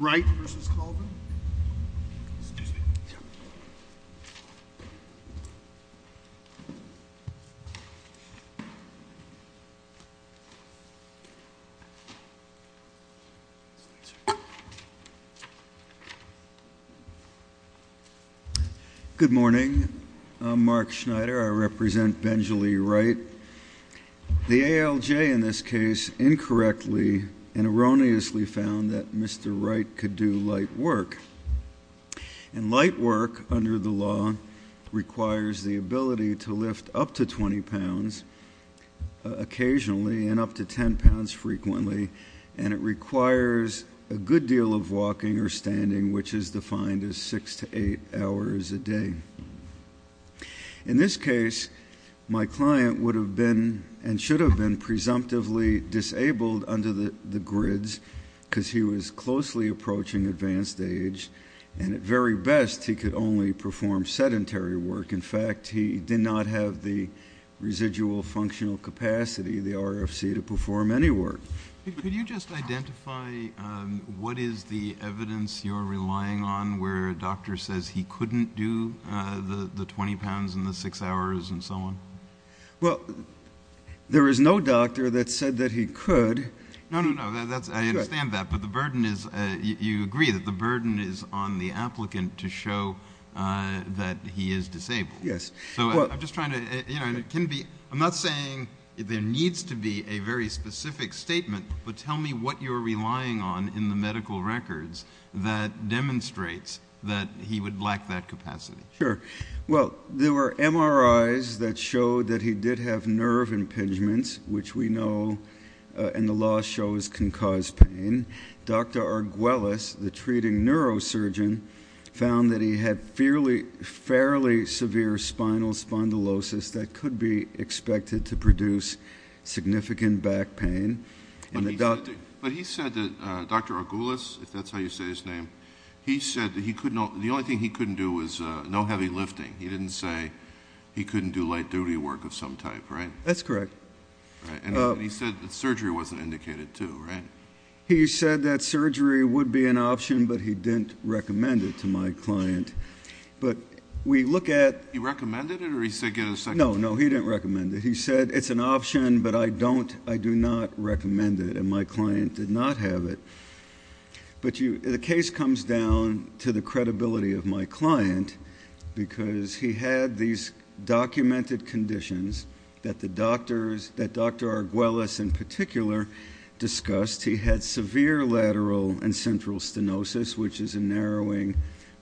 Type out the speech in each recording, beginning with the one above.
Wright v. Colvin Good morning. I'm Mark Schneider. I represent Benjalee Wright. The ALJ in that Mr. Wright could do light work and light work under the law requires the ability to lift up to 20 pounds occasionally and up to 10 pounds frequently and it requires a good deal of walking or standing which is defined as six to eight hours a day. In this case my client would have been and should do his closely approaching advanced age and at very best he could only perform sedentary work. In fact he did not have the residual functional capacity the RFC to perform any work. Could you just identify what is the evidence you're relying on where a doctor says he couldn't do the the 20 pounds in the six hours and so on? Well there is no doctor that said that he could. No no no that's I understand that but the burden is you agree that the burden is on the applicant to show that he is disabled. Yes. So I'm just trying to you know it can be I'm not saying there needs to be a very specific statement but tell me what you're relying on in the medical records that demonstrates that he would lack that capacity. Sure well there were MRIs that showed that he did have nerve impingements which we know and the law shows can cause pain. Dr. Arguelas the treating neurosurgeon found that he had fairly severely severe spinal spondylosis that could be expected to produce significant back pain. But he said that Dr. Arguelas if that's how you say his name he said that he could not the only thing he couldn't do was no heavy lifting. He didn't say he couldn't do light duty work of some type right? That's correct. And he said that surgery wasn't indicated too right? He said that surgery would be an option but he didn't recommend it to my client. But we look at. He recommended it or he said get a second? No no he didn't recommend it. He said it's an option but I don't I do not recommend it and my client did not have it. But you the case comes down to the conditions that the doctors that Dr. Arguelas in particular discussed. He had severe lateral and central stenosis which is a narrowing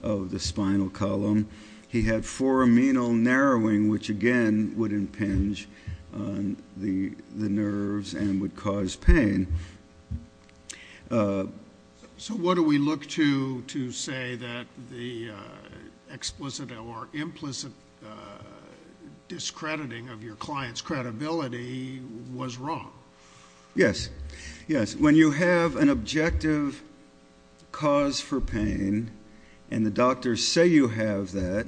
of the spinal column. He had four amenal narrowing which again would impinge on the the nerves and would cause pain. So what do we look to to say that the explicit or discrediting of your client's credibility was wrong? Yes yes when you have an objective cause for pain and the doctors say you have that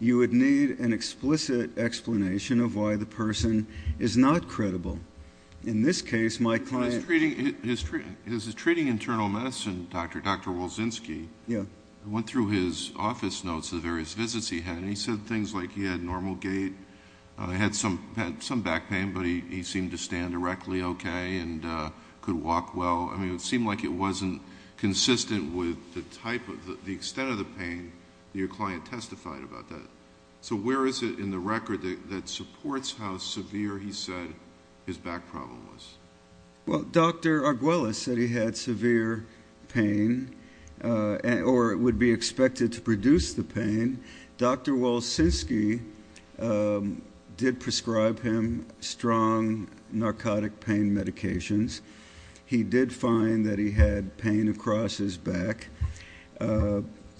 you would need an explicit explanation of why the person is not credible. In this case my client. His treating internal medicine doctor Dr. Wolzinski. Yeah. Went through his office notes the various visits he had and he said things like he had normal gait. I had some had some back pain but he seemed to stand directly okay and could walk well. I mean it seemed like it wasn't consistent with the type of the extent of the pain your client testified about that. So where is it in the record that supports how severe he said his back problem was? Well Dr. Arguelas said he had severe pain and or it would be expected to produce the pain. Dr. Wolzinski did prescribe him strong narcotic pain medications. He did find that he had pain across his back.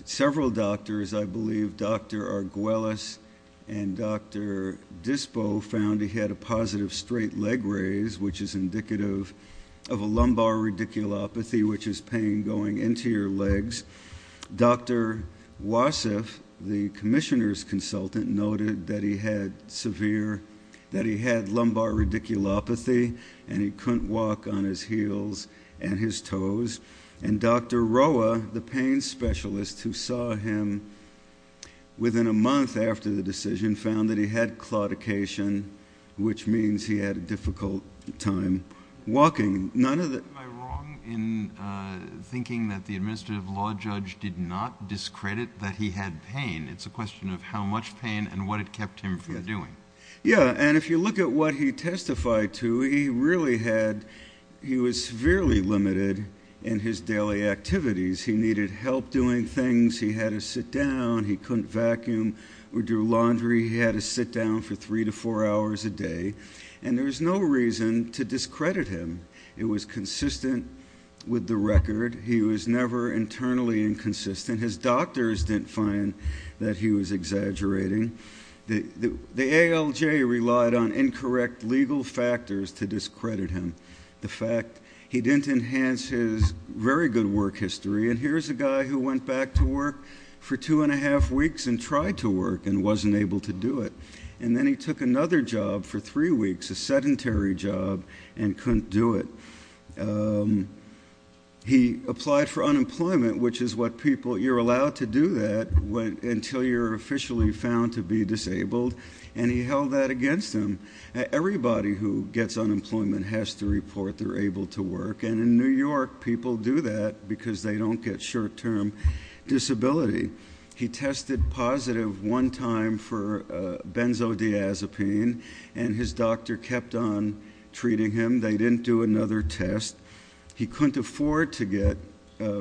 Several doctors I believe Dr. Arguelas and Dr. Dispo found he had a positive straight leg raise which is indicative of a lumbar radiculopathy which is pain going into your legs. Dr. Wasif the commissioner's consultant noted that he had severe that he had lumbar radiculopathy and he couldn't walk on his heels and his toes and Dr. Roa the pain specialist who saw him within a month after the decision found that he had claudication which means he had a difficult time walking. Am I wrong in thinking that the question of how much pain and what it kept him from doing? Yeah and if you look at what he testified to he really had he was severely limited in his daily activities. He needed help doing things. He had to sit down. He couldn't vacuum or do laundry. He had to sit down for three to four hours a day and there was no reason to discredit him. It was consistent with the record. He was never internally inconsistent. His doctors didn't find that he was exaggerating. The ALJ relied on incorrect legal factors to discredit him. The fact he didn't enhance his very good work history and here's a guy who went back to work for two and a half weeks and tried to work and wasn't able to do it and then he took another job for three weeks a sedentary job and couldn't do it. He applied for unemployment which is what people you're allowed to do that until you're officially found to be disabled and he held that against him. Everybody who gets unemployment has to report they're able to work and in New York people do that because they don't get short-term disability. He tested positive one time for benzodiazepine and his doctor kept on treating him. They didn't do another test. He couldn't afford to get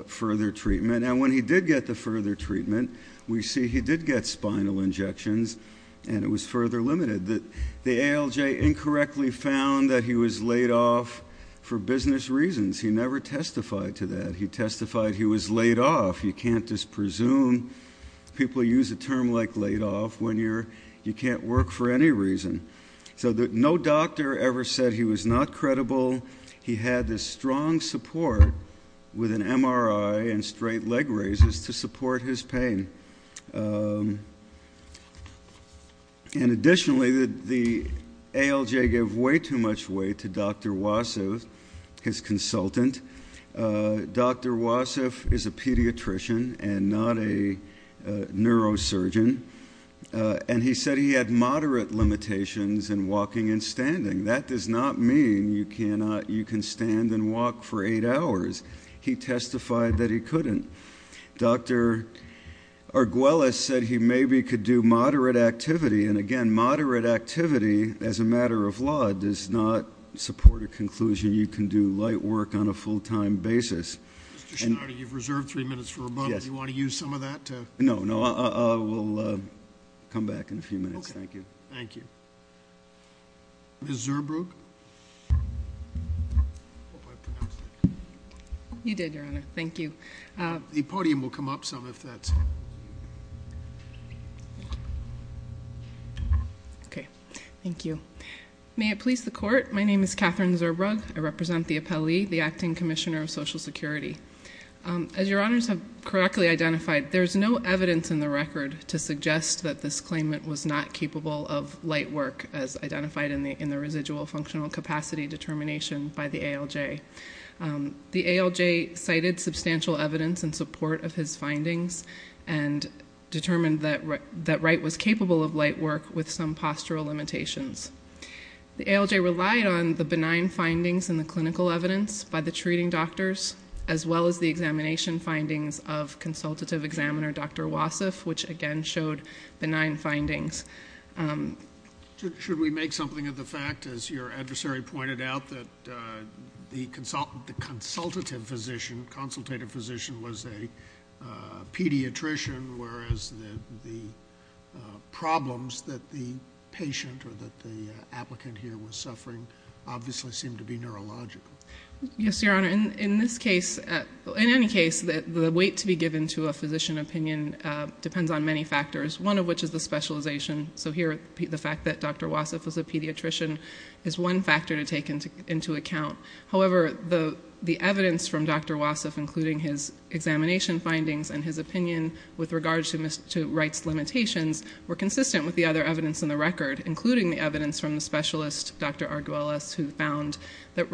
further treatment and when he did get the further treatment we see he did get spinal injections and it was further limited. The ALJ incorrectly found that he was laid off for business reasons. He never testified to that. He testified he was laid off. You can't just presume. People use a term like laid off when you're you can't work for any reason. So that no doctor ever said he was not credible. He had this strong support with an MRI and straight leg raises to support his pain. And additionally the ALJ gave way too much weight to Dr. Wasif, his consultant. Dr. Wasif is a pediatrician and not a neurosurgeon and he said he had moderate limitations in walking and standing. That does not mean you cannot you can stand and walk for eight hours. He testified that he couldn't. Dr. Arguelles said he maybe could do moderate activity and again moderate activity as a matter of law does not support a conclusion. You can do light work on a full-time basis. You've reserved three minutes for a moment. Do you want to use some of that? No no I will come back in a few minutes. Thank you. Thank you. Ms. Zurbrug. You did your honor. Thank you. The podium will come up some if that's okay. Thank you. May it please the court. My name is Catherine Zurbrug. I represent the appellee, the Acting Commissioner of Social Security. As your honors have correctly identified, there's no evidence in the record to suggest that this claimant was not capable of light work as identified in the in the residual functional capacity determination by the ALJ. The ALJ cited substantial evidence in support of his findings and determined that Wright was capable of light work with some postural limitations. The ALJ relied on the benign findings in the clinical evidence by the treating doctors as well as the examination findings of consultative examiner Dr. Wassef, which again showed benign findings. Should we make something of the fact, as your adversary pointed out, that the consultant, the consultative physician was a pediatrician whereas the problems that the patient or that the applicant here was suffering obviously seemed to be neurological. Yes, your honor. In this case, in any case, the weight to be given to a physician opinion depends on many factors, one of which is the specialization. So here, the fact that Dr. Wassef was a pediatrician is one factor to take into account. However, the evidence from Dr. Wassef, including his examination findings and his opinion with regards to Wright's limitations, were consistent with the other evidence in the record, including the evidence from the specialist Dr. Arguelles, who found that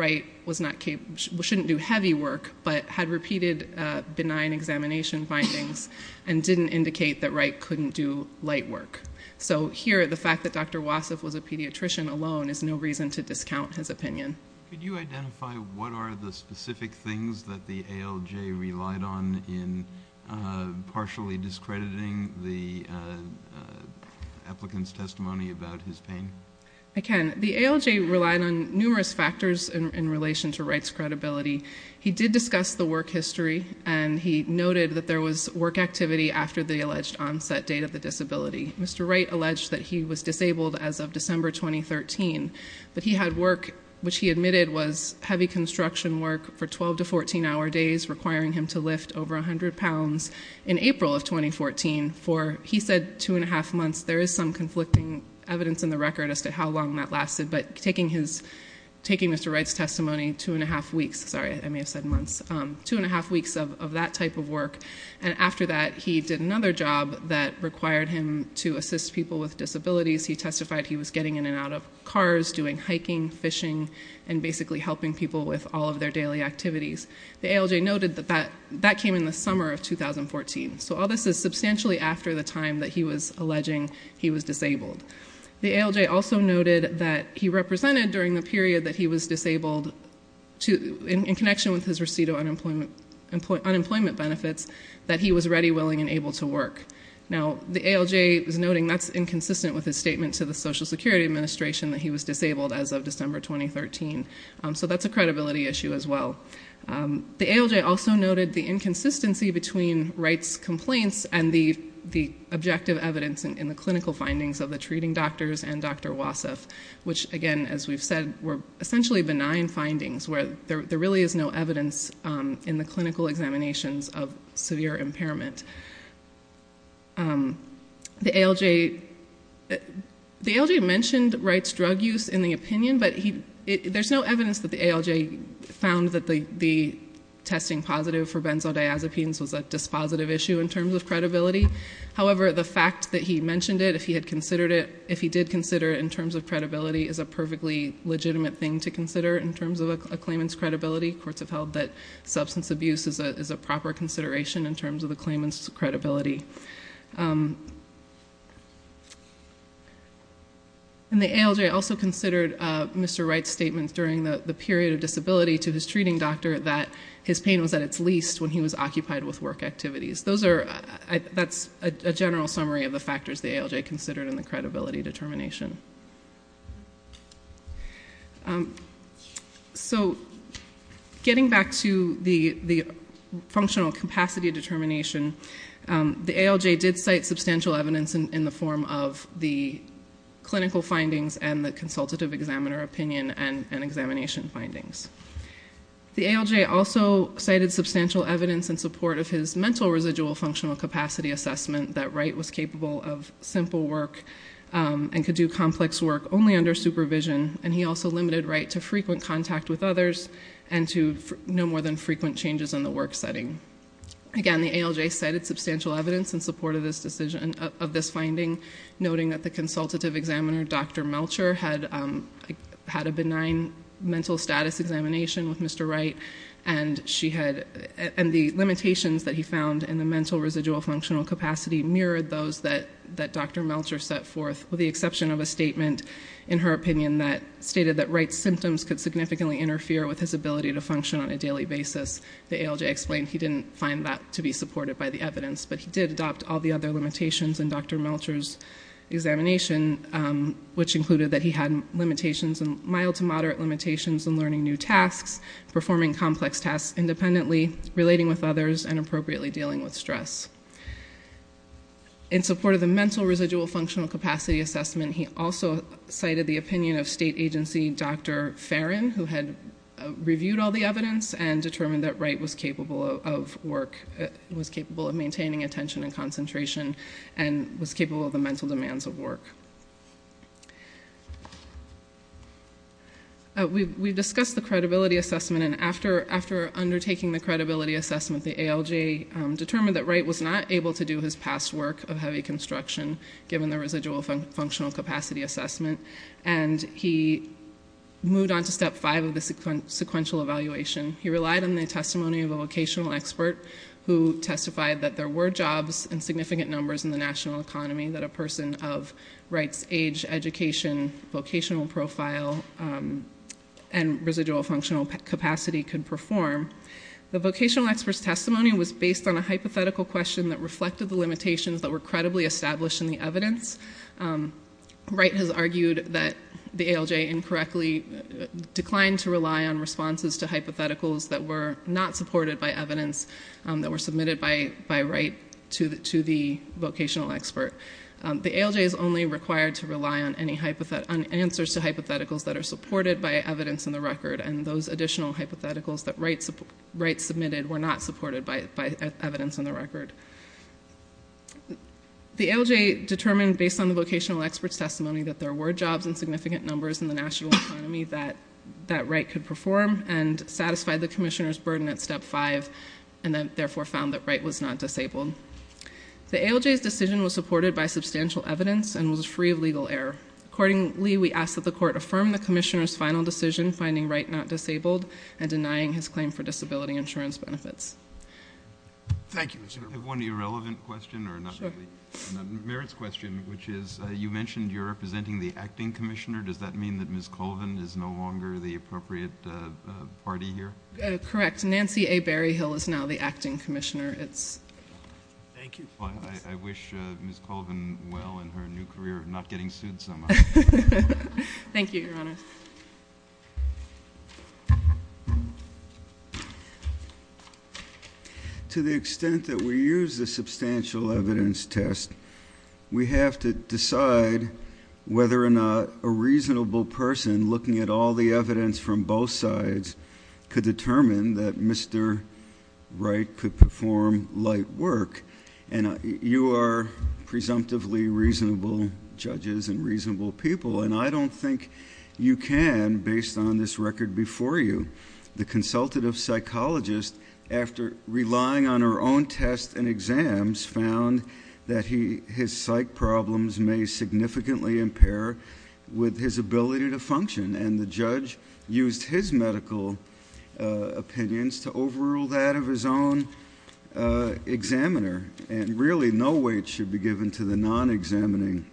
repeated benign examination findings and didn't indicate that Wright couldn't do light work. So here, the fact that Dr. Wassef was a pediatrician alone is no reason to discount his opinion. Could you identify what are the specific things that the ALJ relied on in partially discrediting the applicant's testimony about his pain? I can. The ALJ relied on numerous factors in relation to Wright's work history, and he noted that there was work activity after the alleged onset date of the disability. Mr. Wright alleged that he was disabled as of December 2013, but he had work which he admitted was heavy construction work for 12 to 14 hour days, requiring him to lift over a hundred pounds in April of 2014 for, he said, two and a half months. There is some conflicting evidence in the record as to how long that lasted, but taking Mr. Wright's testimony, two and a half weeks, sorry, I may have said months, two and a half weeks of that type of work, and after that he did another job that required him to assist people with disabilities. He testified he was getting in and out of cars, doing hiking, fishing, and basically helping people with all of their daily activities. The ALJ noted that that came in the summer of 2014, so all this is substantially after the time that he was alleging he was disabled. The ALJ also admitted during the period that he was disabled, in connection with his receipt of unemployment benefits, that he was ready, willing, and able to work. Now, the ALJ is noting that's inconsistent with his statement to the Social Security Administration that he was disabled as of December 2013, so that's a credibility issue as well. The ALJ also noted the inconsistency between Wright's complaints and the objective evidence in the clinical findings of the treating that we've said were essentially benign findings, where there really is no evidence in the clinical examinations of severe impairment. The ALJ mentioned Wright's drug use in the opinion, but there's no evidence that the ALJ found that the testing positive for benzodiazepines was a dispositive issue in terms of credibility. However, the fact that he mentioned it, if he had legitimate thing to consider in terms of a claimant's credibility, courts have held that substance abuse is a proper consideration in terms of the claimant's credibility. And the ALJ also considered Mr. Wright's statements during the period of disability to his treating doctor that his pain was at its least when he was occupied with work activities. That's a general summary of the factors the ALJ considered in the credibility determination. So getting back to the functional capacity determination, the ALJ did cite substantial evidence in the form of the clinical findings and the consultative examiner opinion and examination findings. The ALJ also cited substantial evidence in support of his mental residual functional capacity assessment that Wright was capable of simple work and could do complex work only under supervision. And he also limited Wright to frequent contact with others and to no more than frequent changes in the work setting. Again, the ALJ cited substantial evidence in support of this decision, of this finding, noting that the consultative examiner, Dr. Melcher, had had a benign mental status examination with Mr. Wright and she had, and the limitations that he found in the mental residual functional capacity mirrored those that Dr. Melcher set forth, with the exception of a statement in her opinion that stated that Wright's symptoms could significantly interfere with his ability to function on a daily basis. The ALJ explained he didn't find that to be supported by the evidence, but he did adopt all the other limitations in Dr. Melcher's examination, which included that he had limitations, mild to moderate limitations in learning new tasks, performing complex tasks independently, relating with others, and appropriately dealing with stress. In support of the mental residual functional capacity assessment, he also cited the opinion of state agency Dr. Farron, who had reviewed all the evidence and determined that Wright was capable of work, was capable of maintaining attention and concentration, and was capable of the mental demands of work. We discussed the credibility assessment and after undertaking the credibility assessment, the ALJ determined that Wright was not able to do his past work of heavy construction, given the residual functional capacity assessment, and he moved on to step five of the sequential evaluation. He relied on the testimony of a vocational expert who testified that there were jobs in significant numbers in the national economy that a person of Wright's age, education, vocational profile, and residual functional capacity could perform. The vocational expert's testimony was based on a hypothetical question that reflected the limitations that were credibly established in the evidence. Wright has argued that the ALJ incorrectly declined to rely on responses to hypotheticals that were not supported by evidence, that were to the vocational expert. The ALJ is only required to rely on answers to hypotheticals that are supported by evidence in the record, and those additional hypotheticals that Wright submitted were not supported by evidence in the record. The ALJ determined, based on the vocational expert's testimony, that there were jobs in significant numbers in the national economy that Wright could perform, and satisfied the commissioner's burden at step five, and therefore found that Wright was not disabled. The ALJ's decision was supported by substantial evidence and was free of legal error. Accordingly, we ask that the court affirm the commissioner's final decision, finding Wright not disabled and denying his claim for disability insurance benefits. Thank you, Mr. Berman. I have one irrelevant question, or not really. Sure. Merit's question, which is, you mentioned you're representing the acting commissioner. Does that mean that Ms. Colvin is no longer the appropriate party here? Correct. Nancy A. Berryhill is now the acting commissioner. Thank you. I wish Ms. Colvin well in her new career of not getting sued so much. Thank you, Your Honor. To the extent that we use the substantial evidence test, we have to decide whether or not a reasonable person, looking at all the evidence from both sides, could determine that Mr. Wright could perform light work. You are presumptively reasonable judges and reasonable people, and I don't think you can, based on this record before you. The consultative psychologist, after relying on her own tests and exams, found that his psych problems may significantly impair with his ability to function, and the judge used his medical opinions to overrule that of his own examiner, and really no weight should be given to the non-examining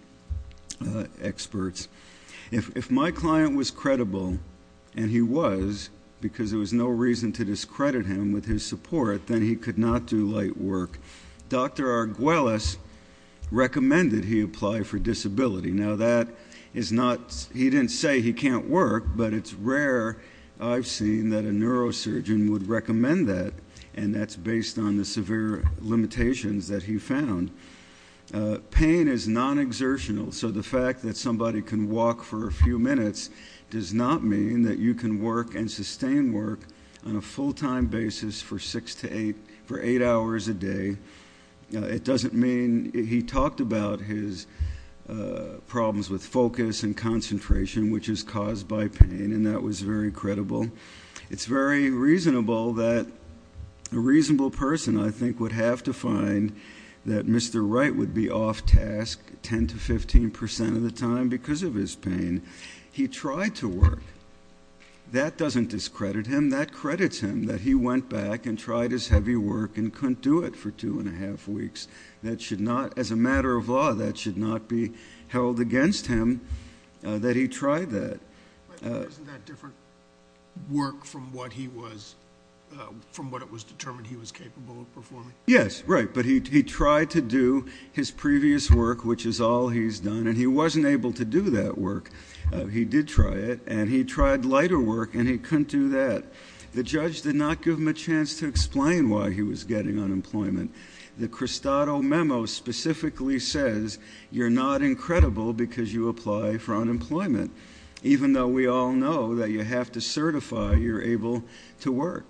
experts. If my client was credible, and he was, because there was no reason to discredit him with his support, then he could not do light work. Dr. Arguelles recommended he apply for disability. Now, that is not... he didn't say he can't work, but it's rare I've seen that a neurosurgeon would recommend that, and that's based on the severe limitations that he found. Pain is non-exertional, so the fact that somebody can walk for a few minutes does not mean that you can work and sustain work on a full-time basis for eight hours a day. It doesn't mean... he talked about his problems with focus and concentration, which is caused by pain, and that was very credible. It's very reasonable that a reasonable person, I think, would have to find that Mr. Wright would be off-task 10 to 15 percent of the time because of his pain. He tried to work. That doesn't discredit him. That credits him, that he went back and tried his heavy work and couldn't do it for two and a half weeks. That should not, as a matter of law, that should not be held against him that he tried that. Isn't that different work from what he was... from what it was determined he was capable of performing? Yes, right, but he tried to do his previous work, which is all he's done, and he wasn't able to do that work. He did try it, and he tried lighter work, and he couldn't do that. The judge did not give him a chance to explain why he was getting unemployment. The Cristado memo specifically says you're not incredible because you apply for unemployment, even though we all know that you have to certify you're able to work,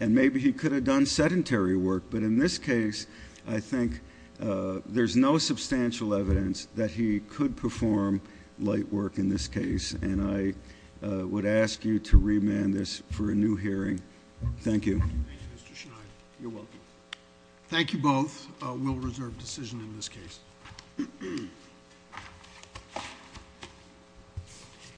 and maybe he could have done sedentary work, but in this case, I think there's no substantial evidence that he could perform light work in this case, and I would ask you to remand this for a new hearing. Thank you. Thank you, Mr. Schneider. You're welcome. Thank you both. We'll reserve decision in this case.